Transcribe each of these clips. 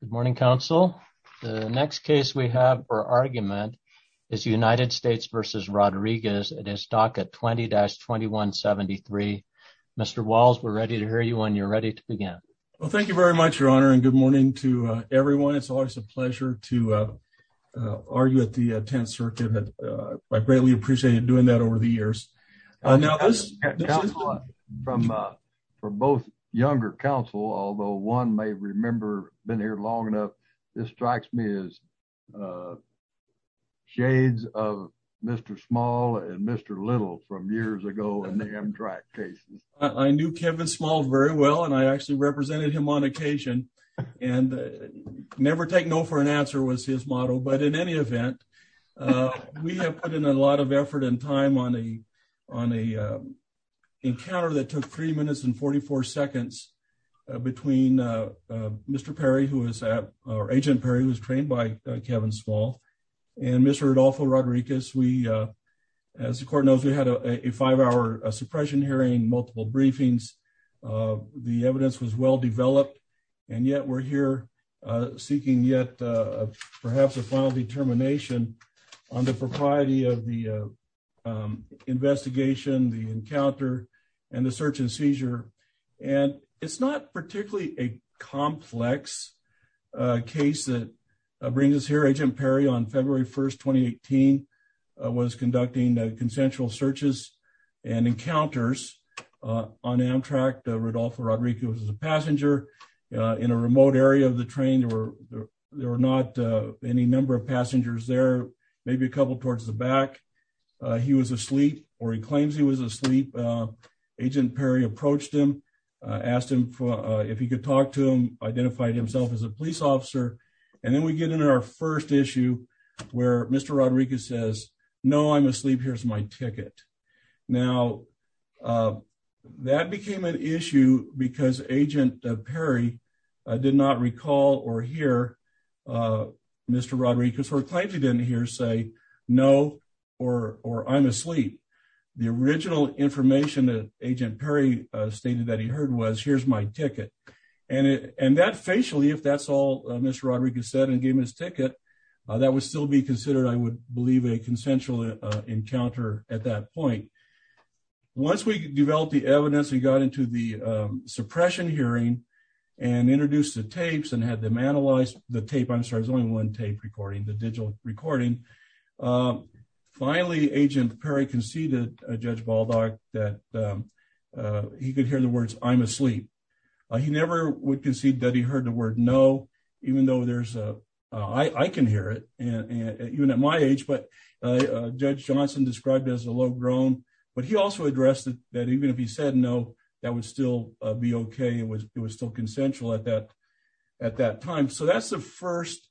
Good morning, Council. The next case we have for argument is United States v. Rodriguez. It is DACA 20-2173. Mr. Walls, we're ready to hear you when you're ready to begin. Well, thank you very much, Your Honor, and good morning to everyone. It's always a pleasure to argue at the 10th Circuit. I greatly appreciated doing that over the years. For both younger counsel, although one may remember being here long enough, this strikes me as shades of Mr. Small and Mr. Little from years ago in the Amtrak cases. I knew Kevin Small very well, and I actually represented him on occasion, and never take no for an answer was his motto. But in any event, we have put in a lot of effort and time on a encounter that took 3 minutes and 44 seconds between Mr. Perry, or Agent Perry, who was trained by Kevin Small, and Mr. Rodolfo Rodriguez. As the Court knows, we had a 5-hour suppression hearing, multiple briefings. The evidence was well-developed, and yet we're here seeking yet perhaps a final determination on the propriety of the investigation, the encounter, and the search and seizure. It's not particularly a complex case that brings us here. Agent Perry, on February 1, 2018, was conducting consensual searches and encounters on Amtrak. Rodolfo Rodriguez was a passenger in a remote area of the train. There were not any number of passengers there, maybe a couple towards the back. He was asleep, or he claims he was asleep. Agent Perry approached him, asked him if he could talk to him, identified himself as a police officer, and then we get into our first issue where Mr. Rodriguez says, No, I'm asleep. Here's my ticket. Now, that became an issue because Agent Perry did not recall or hear Mr. Rodriguez, or claims he didn't hear, say, No, or I'm asleep. The original information that Agent Perry stated that he heard was, Here's my ticket. And that, facially, if that's all Mr. Rodriguez said and gave him his ticket, that would still be considered, I would believe, a consensual encounter at that point. Once we developed the evidence and got into the suppression hearing and introduced the tapes and had them analyze the tape, I'm sorry, there's only one tape recording, the digital recording, finally, Agent Perry conceded to Judge Baldock that he could hear the words, I'm asleep. He never would concede that he heard the word, No, even though there's a, I can hear it, even at my age, but Judge Johnson described it as a low-grown, but he also addressed that even if he said, No, that would still be okay. It was still consensual at that time. So that's the first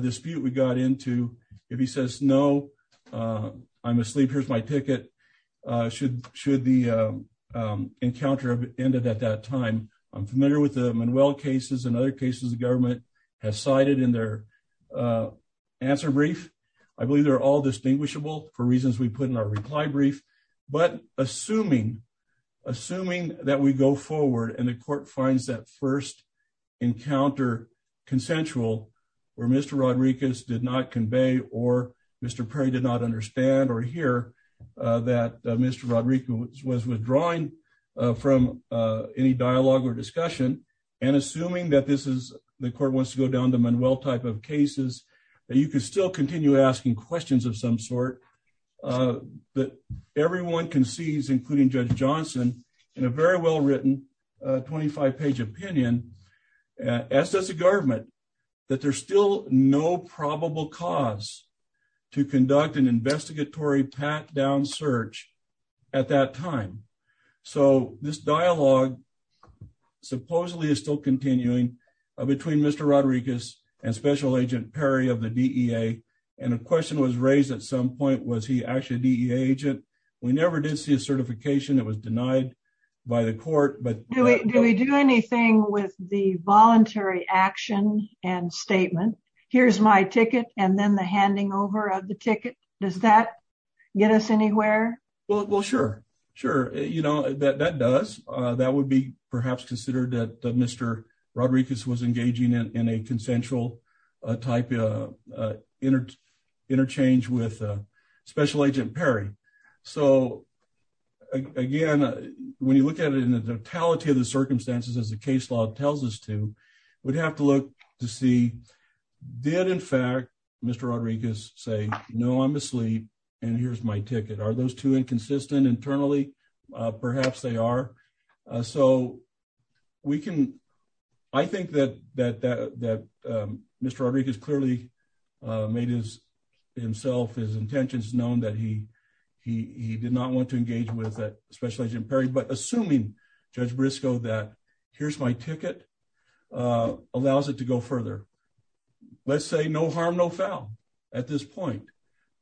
dispute we got into. If he says, No, I'm asleep, here's my ticket, should the encounter have ended at that time. I'm familiar with the Manuel cases and other cases the government has cited in their answer brief. I believe they're all distinguishable for reasons we put in our reply brief, but assuming that we go forward and the court finds that first encounter consensual where Mr. Rodriguez did not convey or Mr. Perry did not understand or hear that Mr. Rodriguez was withdrawing from any dialogue or discussion. And assuming that this is, the court wants to go down to Manuel type of cases, that you can still continue asking questions of some sort, but everyone concedes, including Judge Johnson, in a very well-written 25-page opinion, as does the government, that there's still no probable cause to conduct an investigatory pat-down search at that time. So, this dialogue supposedly is still continuing between Mr. Rodriguez and Special Agent Perry of the DEA, and a question was raised at some point, was he actually a DEA agent? We never did see a certification, it was denied by the court. Do we do anything with the voluntary action and statement, here's my ticket, and then the handing over of the ticket? Does that get us anywhere? Well, sure. That does. That would be perhaps considered that Mr. Rodriguez was engaging in a consensual type of interchange with Special Agent Perry. So, again, when you look at it in the totality of the circumstances, as the case law tells us to, we'd have to look to see, did, in fact, Mr. Rodriguez say, no, I'm asleep, and here's my ticket? Are those two inconsistent internally? Perhaps they are. So, we can, I think that Mr. Rodriguez clearly made himself, his intentions known that he did not want to engage with Special Agent Perry, but assuming Judge Briscoe that, here's my ticket, allows it to go further. Let's say no harm, no foul at this point.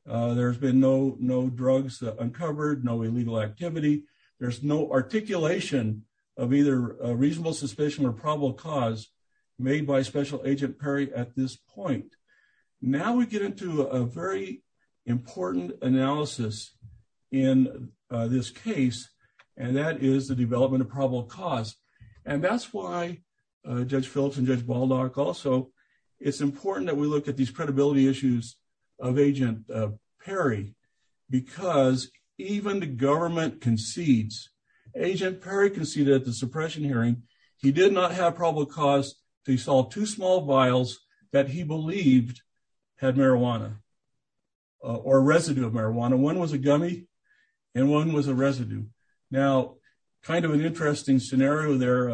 There's been no drugs uncovered, no illegal activity. There's no articulation of either reasonable suspicion or probable cause made by Special Agent Perry at this point. Now we get into a very important analysis in this case, and that is the development of probable cause. And that's why Judge Phillips and Judge Baldock also, it's important that we look at these credibility issues of Agent Perry, because even the government concedes, Agent Perry conceded at the suppression hearing, he did not have probable cause to install two small vials that he believed had marijuana, or residue of marijuana. One was a gummy, and one was a residue. Now, kind of an interesting scenario there,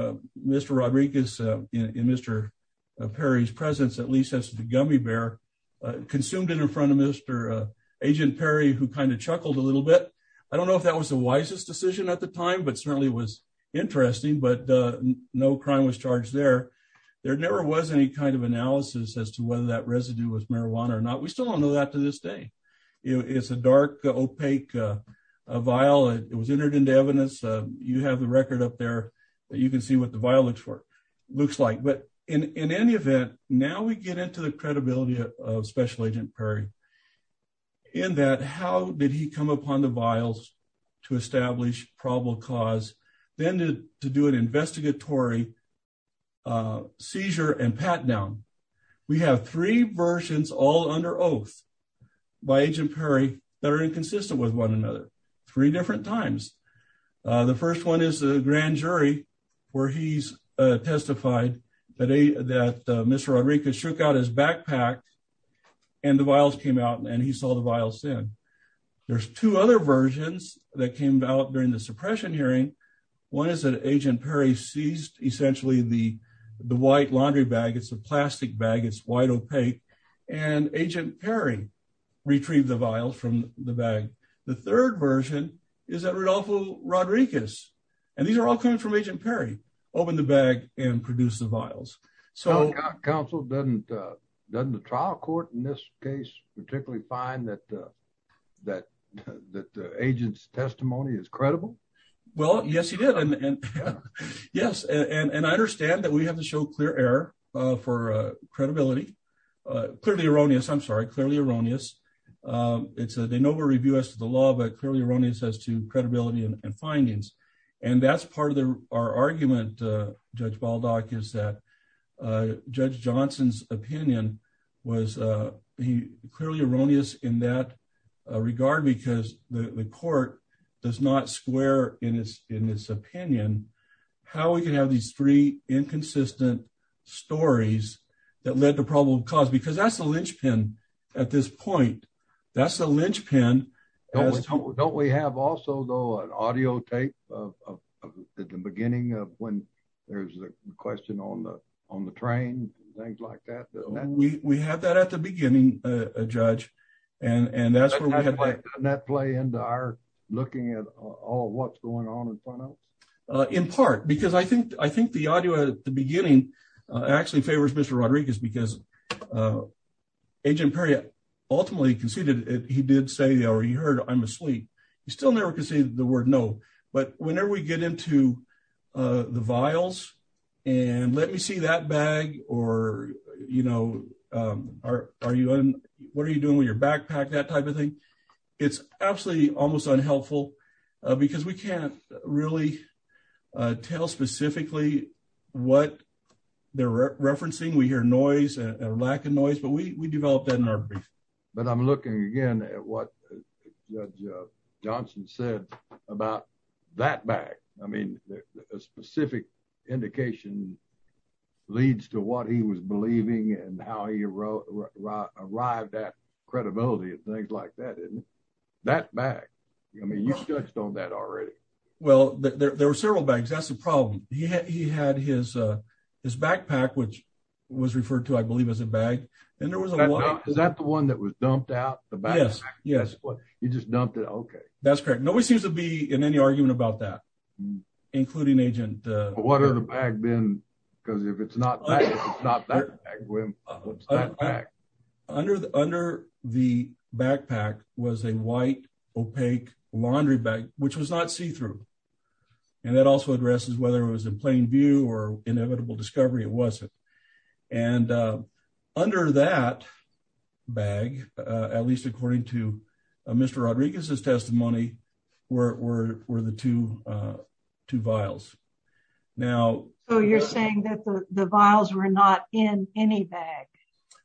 Mr. Rodriguez, in Mr. Perry's presence, at least as the gummy bear, consumed it in front of Mr. Agent Perry, who kind of chuckled a little bit. I don't know if that was the wisest decision at the time, but certainly it was interesting, but no crime was charged there. There never was any kind of analysis as to whether that residue was marijuana or not. We still don't know that to this day. It's a dark, opaque vial. It was entered into evidence. You have the record up there that you can see what the vial looks like. But in any event, now we get into the credibility of Special Agent Perry, in that how did he come upon the vials to establish probable cause, then to do an investigatory seizure and pat down? We have three versions, all under oath, by Agent Perry, that are inconsistent with one another, three different times. The first one is the grand jury, where he's testified that Mr. Rodriguez shook out his backpack, and the vials came out, and he saw the vials then. There's two other versions that came out during the suppression hearing. One is that Agent Perry seized, essentially, the white laundry bag. It's a plastic bag. It's white, opaque. And Agent Perry retrieved the vials from the bag. The third version is that Rodolfo Rodriguez, and these are all coming from Agent Perry, opened the bag and produced the vials. Counsel, doesn't the trial court in this case particularly find that the agent's testimony is credible? Well, yes, he did. Yes, and I understand that we have to show clear error for credibility. Clearly erroneous, I'm sorry, clearly erroneous. It's a de novo review as to the law, but clearly erroneous as to credibility and findings. And that's part of our argument, Judge Baldock, is that Judge Johnson's opinion was clearly erroneous in that regard, because the court does not square in its opinion how we can have these three inconsistent stories that led to probable cause, because that's the linchpin at this point. That's the linchpin. Don't we have also, though, an audio tape at the beginning of when there's a question on the train and things like that? We have that at the beginning, Judge. Doesn't that play into our looking at what's going on in front of us? In part, because I think the audio at the beginning actually favors Mr. Rodriguez, because Agent Perry ultimately conceded he did say, or he heard, I'm asleep. He still never conceded the word no, but whenever we get into the vials and let me see that bag or, you know, what are you doing with your backpack, that type of thing. It's absolutely almost unhelpful because we can't really tell specifically what they're referencing. We hear noise and lack of noise, but we developed that in our brief. But I'm looking again at what Judge Johnson said about that bag. I mean, a specific indication leads to what he was believing and how he arrived at credibility and things like that. That bag, I mean, you touched on that already. Well, there were several bags. That's the problem. He had his backpack, which was referred to, I believe, as a bag. Is that the one that was dumped out? Yes. You just dumped it. Okay. That's correct. Nobody seems to be in any argument about that, including Agent Perry. What other bag then? Because if it's not that, it's not that bag. Under the backpack was a white, opaque laundry bag, which was not see-through. And that also addresses whether it was in plain view or inevitable discovery, it wasn't. And under that bag, at least according to Mr. Rodriguez's testimony, were the two vials. So you're saying that the vials were not in any bag?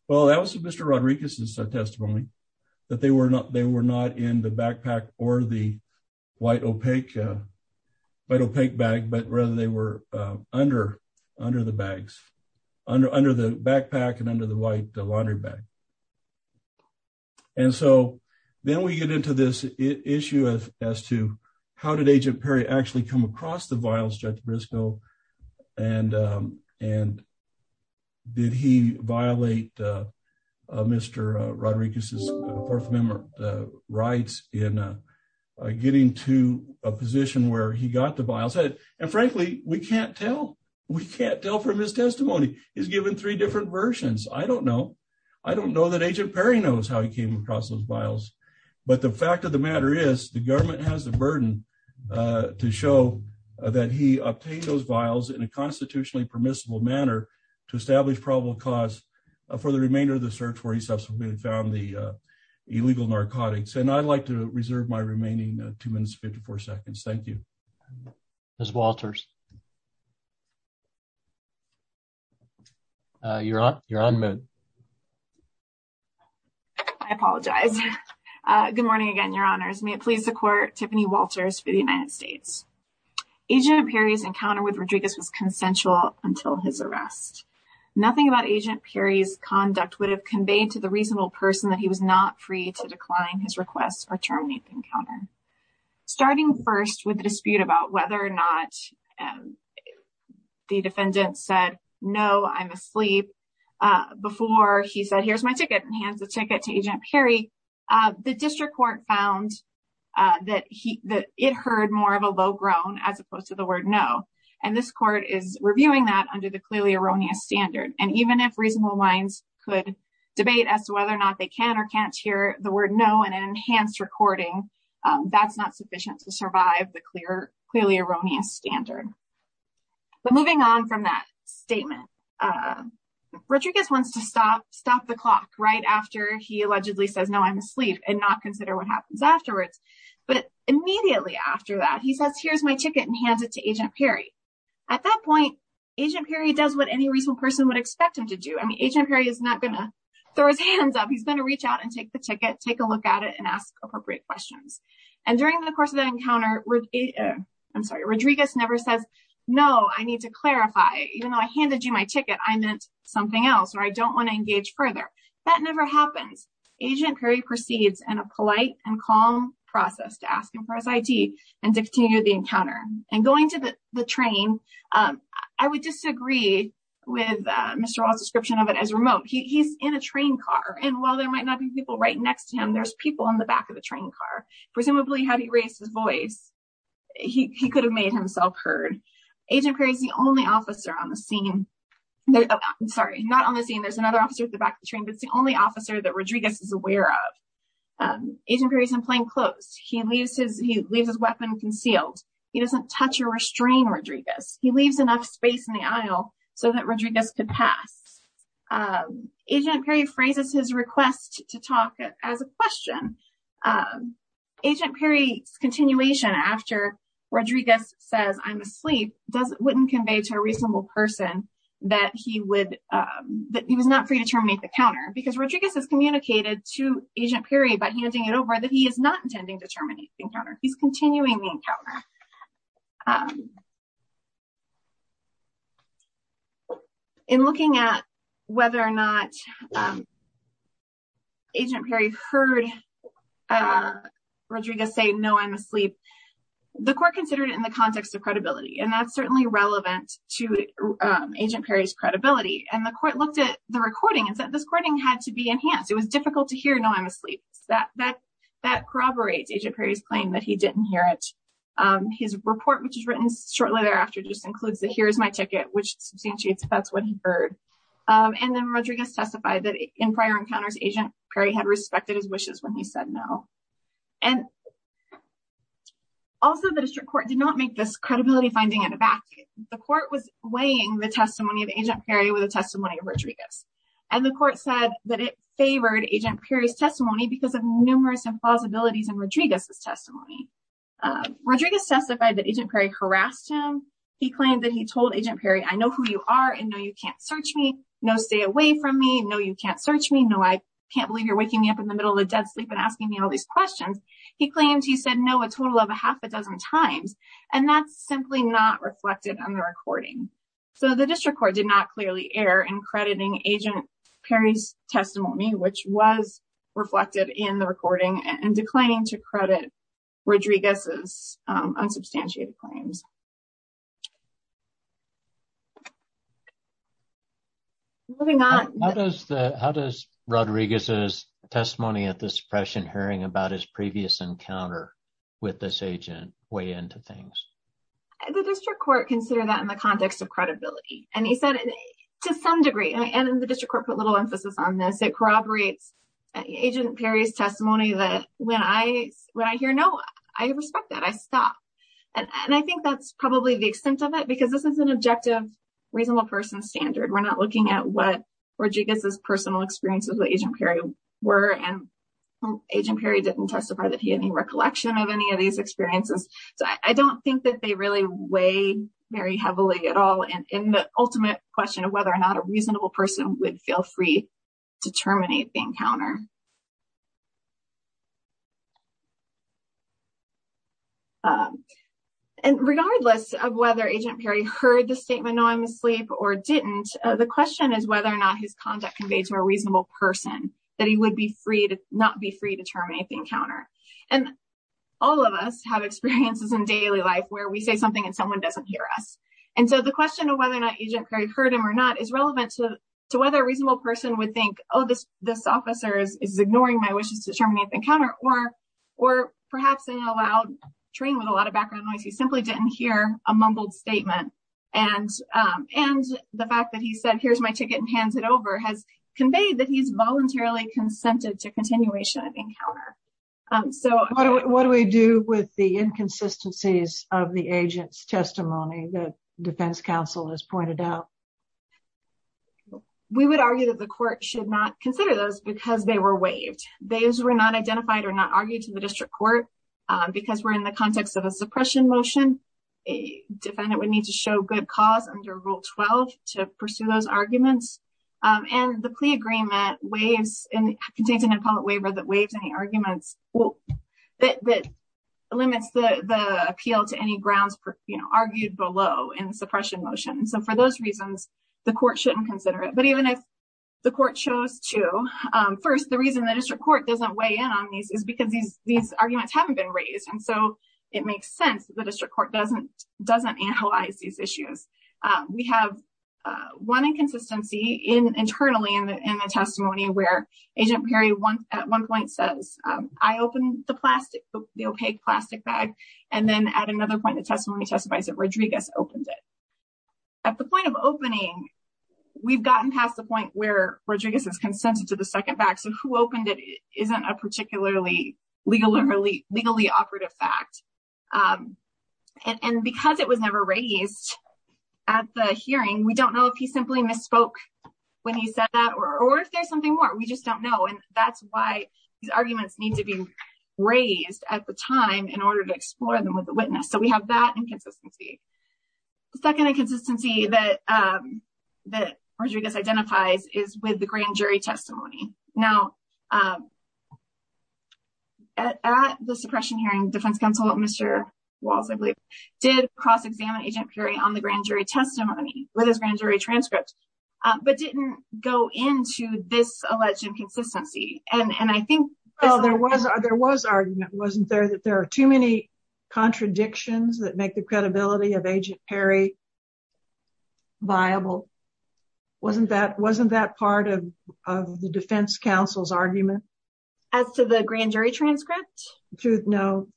Well, that was Mr. Rodriguez's testimony, that they were not in the backpack or the white, opaque bag, but rather they were under the bags, under the backpack and under the white laundry bag. And so then we get into this issue as to how did Agent Perry actually come across the vials, Judge Briscoe, and did he violate Mr. Rodriguez's Fourth Amendment rights in getting to a position where he got the vials? And frankly, we can't tell. We can't tell from his testimony. He's given three different versions. I don't know. I don't know that Agent Perry knows how he came across those vials. But the fact of the matter is the government has the burden to show that he obtained those vials in a constitutionally permissible manner to establish probable cause for the remainder of the search where he subsequently found the illegal narcotics. And I'd like to reserve my remaining two minutes, 54 seconds. Thank you. Ms. Walters. You're on, you're on mute. I apologize. Good morning again, Your Honors. May it please the Court, Tiffany Walters for the United States. Agent Perry's encounter with Rodriguez was consensual until his arrest. Nothing about Agent Perry's conduct would have conveyed to the reasonable person that he was not free to decline his request or terminate the encounter. Starting first with the dispute about whether or not the defendant said, no, I'm asleep. Before he said, here's my ticket and hands the ticket to Agent Perry, the district court found that he that it heard more of a low groan as opposed to the word no. And this court is reviewing that under the clearly erroneous standard. And even if reasonable minds could debate as to whether or not they can or can't hear the word no and enhanced recording, that's not sufficient to survive the clear, clearly erroneous standard. But moving on from that statement, Rodriguez wants to stop, stop the clock right after he allegedly says, no, I'm asleep and not consider what happens afterwards. But immediately after that, he says, here's my ticket and hands it to Agent Perry. At that point, Agent Perry does what any reasonable person would expect him to do. I mean, Agent Perry is not going to throw his hands up. He's going to reach out and take the ticket, take a look at it and ask appropriate questions. And during the course of the encounter, I'm sorry, Rodriguez never says, no, I need to clarify. Even though I handed you my ticket, I meant something else or I don't want to engage further. That never happens. Agent Perry proceeds and a polite and calm process to ask him for his ID and to continue the encounter and going to the train. I would disagree with Mr. Ross description of it as remote. He's in a train car. And while there might not be people right next to him, there's people in the back of the train car. Presumably, had he raised his voice, he could have made himself heard. Agent Perry is the only officer on the scene. I'm sorry, not on the scene. There's another officer at the back of the train, but it's the only officer that Rodriguez is aware of. Agent Perry is in plain clothes. He leaves his weapon concealed. He doesn't touch or restrain Rodriguez. He leaves enough space in the aisle so that Rodriguez could pass. Agent Perry phrases his request to talk as a question. Agent Perry's continuation after Rodriguez says, I'm asleep, doesn't wouldn't convey to a reasonable person that he would that he was not free to terminate the counter. Because Rodriguez has communicated to Agent Perry by handing it over that he is not intending to terminate the encounter. He's continuing the encounter. In looking at whether or not. Agent Perry heard Rodriguez say, no, I'm asleep. The court considered it in the context of credibility, and that's certainly relevant to Agent Perry's credibility. And the court looked at the recording and said this recording had to be enhanced. It was difficult to hear. That corroborates Agent Perry's claim that he didn't hear it. His report, which is written shortly thereafter, just includes the here's my ticket, which substantiates that's what he heard. And then Rodriguez testified that in prior encounters, Agent Perry had respected his wishes when he said no. And also, the district court did not make this credibility finding at the back. The court was weighing the testimony of Agent Perry with a testimony of Rodriguez. And the court said that it favored Agent Perry's testimony because of numerous plausibilities in Rodriguez's testimony. Rodriguez testified that Agent Perry harassed him. He claimed that he told Agent Perry, I know who you are. And no, you can't search me. No, stay away from me. No, you can't search me. No, I can't believe you're waking me up in the middle of the dead sleep and asking me all these questions. He claims he said no, a total of a half a dozen times. And that's simply not reflected on the recording. So the district court did not clearly err in crediting Agent Perry's testimony, which was reflected in the recording and declining to credit. Rodriguez's unsubstantiated claims. Moving on, how does the how does Rodriguez's testimony at this pressing hearing about his previous encounter with this agent weigh into things? The district court considered that in the context of credibility, and he said to some degree, and the district court put little emphasis on this. It corroborates Agent Perry's testimony that when I when I hear no, I respect that I stop. And I think that's probably the extent of it, because this is an objective, reasonable person standard. We're not looking at what Rodriguez's personal experiences with Agent Perry were. And Agent Perry didn't testify that he had any recollection of any of these experiences. So I don't think that they really weigh very heavily at all in the ultimate question of whether or not a reasonable person would feel free to terminate the encounter. And regardless of whether Agent Perry heard the statement, no, I'm asleep or didn't. The question is whether or not his conduct conveyed to a reasonable person that he would be free to not be free to terminate the encounter. And all of us have experiences in daily life where we say something and someone doesn't hear us. And so the question of whether or not Agent Perry heard him or not is relevant to whether a reasonable person would think, oh, this this officer is ignoring my wishes to terminate the encounter or or perhaps in a loud train with a lot of background noise. He simply didn't hear a mumbled statement. And and the fact that he said, here's my ticket and hands it over has conveyed that he's voluntarily consented to continuation of the encounter. So what do we do with the inconsistencies of the agent's testimony that defense counsel has pointed out? We would argue that the court should not consider those because they were waived. They were not identified or not argued to the district court because we're in the context of a suppression motion. A defendant would need to show good cause under Rule 12 to pursue those arguments. And the plea agreement waives and contains an appellate waiver that waives any arguments that limits the appeal to any grounds argued below in suppression motions. And so for those reasons, the court shouldn't consider it. But even if the court chose to first, the reason the district court doesn't weigh in on these is because these these arguments haven't been raised. And so it makes sense. The district court doesn't doesn't analyze these issues. We have one inconsistency in internally in the testimony where Agent Perry one at one point says, I opened the plastic, the opaque plastic bag. And then at another point, the testimony testifies that Rodriguez opened it at the point of opening. We've gotten past the point where Rodriguez has consented to the second back. So who opened it isn't a particularly legally, legally operative fact. And because it was never raised at the hearing, we don't know if he simply misspoke when he said that or if there's something more. We just don't know. And that's why these arguments need to be raised at the time in order to explore them with the witness. So we have that inconsistency. Second, inconsistency that that Rodriguez identifies is with the grand jury testimony. Now, at the suppression hearing, defense counsel, Mr. Walls, I believe, did cross examine Agent Perry on the grand jury testimony with his grand jury transcript, but didn't go into this alleged inconsistency. And I think there was there was argument wasn't there that there are too many contradictions that make the credibility of Agent Perry viable. Wasn't that wasn't that part of the defense counsel's argument. As to the grand jury transcript. No,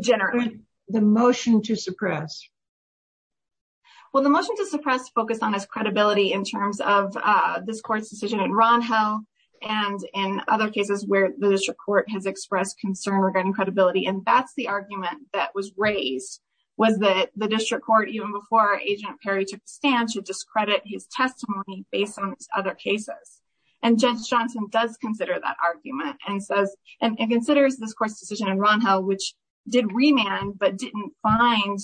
generally, the motion to suppress. Well, the motion to suppress focused on his credibility in terms of this court's decision in Ron Hill and in other cases where the district court has expressed concern regarding credibility. And that's the argument that was raised was that the district court, even before Agent Perry took a stand to discredit his testimony based on other cases. And Judge Johnson does consider that argument and says and considers this court's decision in Ron Hill, which did remand, but didn't find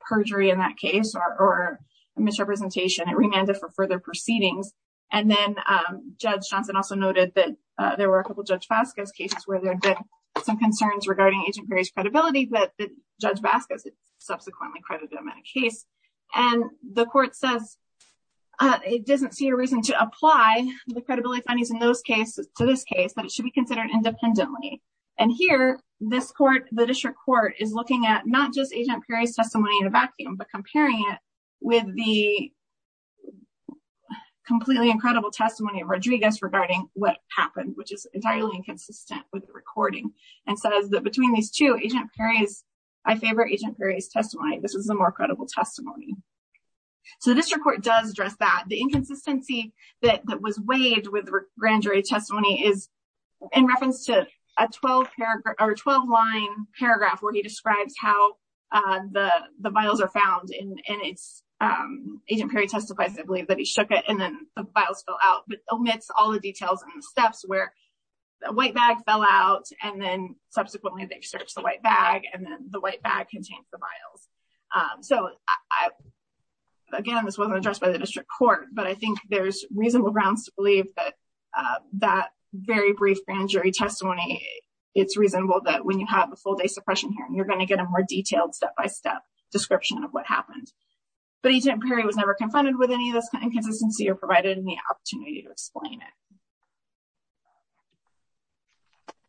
perjury in that case or misrepresentation. It remanded for further proceedings. And then Judge Johnson also noted that there were a couple of Judge Vasquez cases where there were some concerns regarding Agent Perry's credibility that Judge Vasquez subsequently credited him in a case. And the court says it doesn't see a reason to apply the credibility findings in those cases to this case, but it should be considered independently. And here, this court, the district court is looking at not just Agent Perry's testimony in a vacuum, but comparing it with the completely incredible testimony of Rodriguez regarding what happened, which is entirely inconsistent with the recording. And says that between these two, Agent Perry's, I favor Agent Perry's testimony. This is a more credible testimony. So the district court does address that. The inconsistency that was waived with the grand jury testimony is in reference to a 12-line paragraph where he describes how the vials are found in its, Agent Perry testifies, I believe, that he shook it and then the vials fell out. But omits all the details and the steps where the white bag fell out and then subsequently they searched the white bag and then the white bag contains the vials. So, again, this wasn't addressed by the district court, but I think there's reasonable grounds to believe that that very brief grand jury testimony, it's reasonable that when you have a full day suppression hearing, you're going to get a more detailed step-by-step description of what happened. But Agent Perry was never confronted with any of this inconsistency or provided any opportunity to explain it.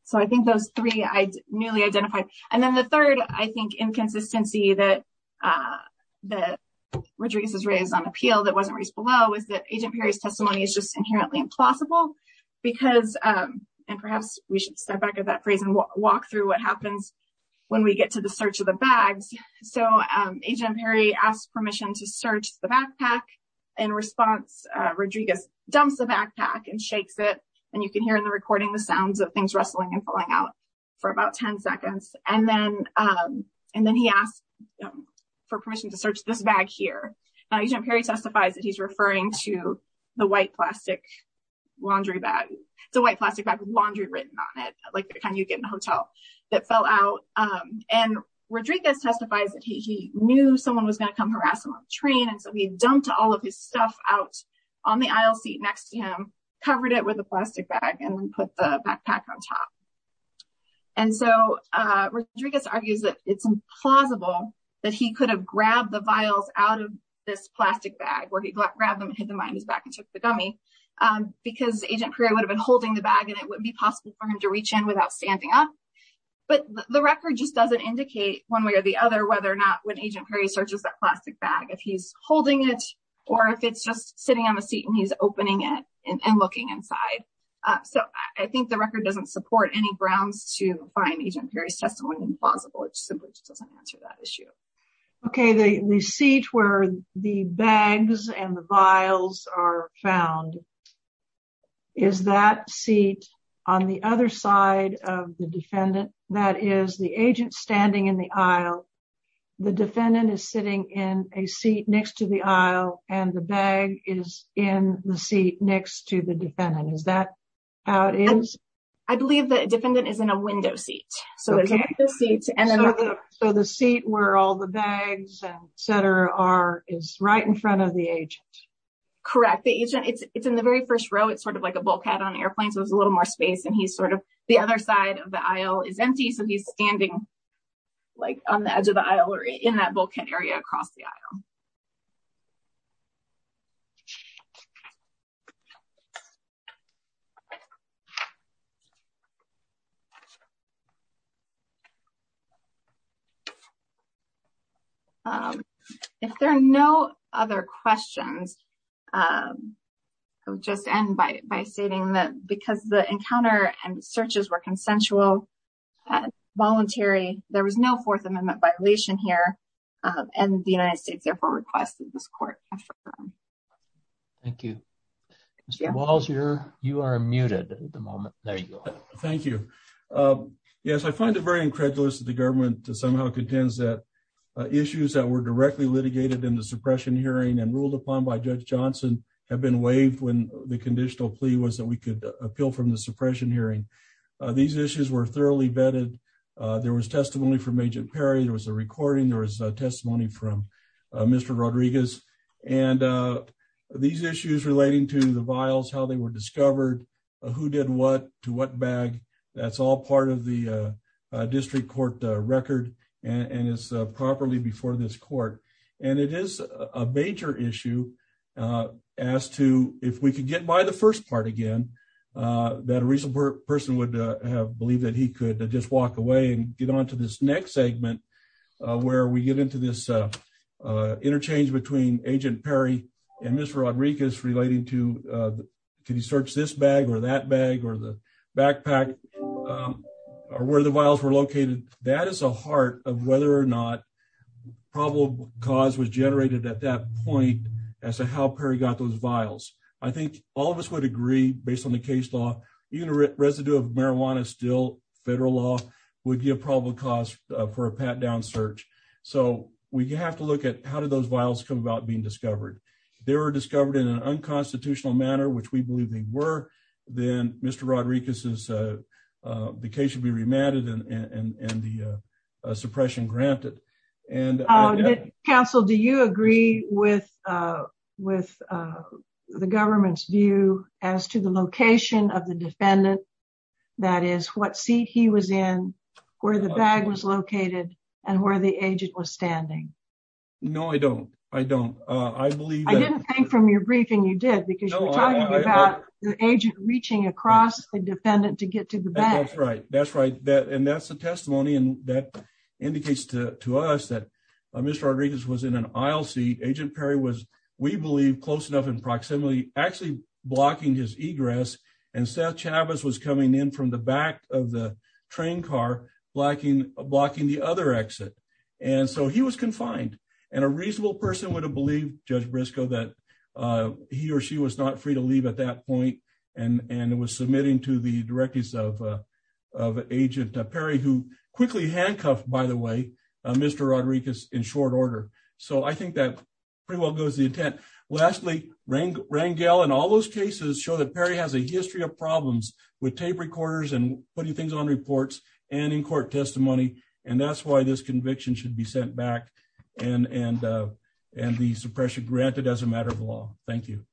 So I think those three I newly identified. And then the third, I think, inconsistency that Rodriguez has raised on appeal that wasn't raised below is that Agent Perry's testimony is just inherently implausible because, and perhaps we should step back at that phrase and walk through what happens when we get to the search of the bags. So, Agent Perry asked permission to search the backpack. In response, Rodriguez dumps the backpack and shakes it, and you can hear in the recording the sounds of things rustling and falling out for about 10 seconds, and then he asked for permission to search this bag here. Agent Perry testifies that he's referring to the white plastic laundry bag. It's a white plastic bag with laundry written on it, like the kind you get in a hotel that fell out. And Rodriguez testifies that he knew someone was going to come harass him on the train, and so he dumped all of his stuff out on the aisle seat next to him, covered it with a plastic bag, and then put the backpack on top. And so, Rodriguez argues that it's implausible that he could have grabbed the vials out of this plastic bag where he grabbed them and hid them behind his back and took the gummy, because Agent Perry would have been holding the bag and it wouldn't be possible for him to reach in without standing up. But the record just doesn't indicate one way or the other whether or not when Agent Perry searches that plastic bag, if he's holding it, or if it's just sitting on the seat and he's opening it and looking inside. So, I think the record doesn't support any grounds to find Agent Perry's testimony implausible. It simply just doesn't answer that issue. Okay, the seat where the bags and the vials are found, is that seat on the other side of the defendant? That is the agent standing in the aisle, the defendant is sitting in a seat next to the aisle, and the bag is in the seat next to the defendant. Is that how it is? I believe the defendant is in a window seat. So, the seat where all the bags, etc. are is right in front of the agent. Correct, the agent, it's in the very first row, it's sort of like a bulkhead on airplanes, there's a little more space and he's sort of, the other side of the aisle is empty, so he's standing like on the edge of the aisle or in that bulkhead area across the aisle. If there are no other questions, I'll just end by stating that because the encounter and searches were consensual, voluntary, there was no Fourth Amendment violation here, and the United States therefore requests that this court confirm. Thank you. Mr. Walls, you are muted at the moment. There you go. Thank you. Yes, I find it very incredulous that the government somehow contends that issues that were directly litigated in the suppression hearing and ruled upon by Judge Johnson have been waived when the conditional plea was that we could appeal from the suppression hearing. These issues were thoroughly vetted. There was testimony from Agent Perry, there was a recording, there was testimony from Mr. Rodriguez, and these issues relating to the vials, how they were discovered, who did what, to what bag, that's all part of the district court record, and it's properly before this court. And it is a major issue as to if we could get by the first part again, that a reasonable person would have believed that he could just walk away and get on to this next segment where we get into this interchange between Agent Perry and Mr. Rodriguez relating to, can you search this bag or that bag or the backpack, or where the vials were located. That is a heart of whether or not probable cause was generated at that point as to how Perry got those vials. I think all of us would agree, based on the case law, even a residue of marijuana still, federal law, would give probable cause for a pat-down search. So, we have to look at how did those vials come about being discovered. If they were discovered in an unconstitutional manner, which we believe they were, then Mr. Rodriguez's case would be remanded and the suppression granted. Counsel, do you agree with the government's view as to the location of the defendant, that is, what seat he was in, where the bag was located, and where the agent was standing? No, I don't. I don't. I believe... I didn't think from your briefing you did, because you were talking about the agent reaching across the defendant to get to the bag. That's right. That's right. And that's the testimony, and that indicates to us that Mr. Rodriguez was in an aisle seat. Agent Perry was, we believe, close enough in proximity, actually blocking his egress, and Seth Chavez was coming in from the back of the train car, blocking the other exit. And so he was confined, and a reasonable person would have believed Judge Briscoe that he or she was not free to leave at that point, and was submitting to the directives of Agent Perry, who quickly handcuffed, by the way, Mr. Rodriguez in short order. So I think that pretty well goes the intent. Lastly, Rangel and all those cases show that Perry has a history of problems with tape recorders and putting things on reports and in court testimony, and that's why this conviction should be sent back and the suppression granted as a matter of law. Thank you.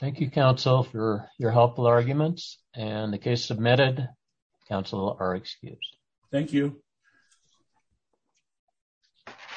Thank you, Counsel, for your helpful arguments. And the case submitted, Counsel, are excused. Thank you. Thank you.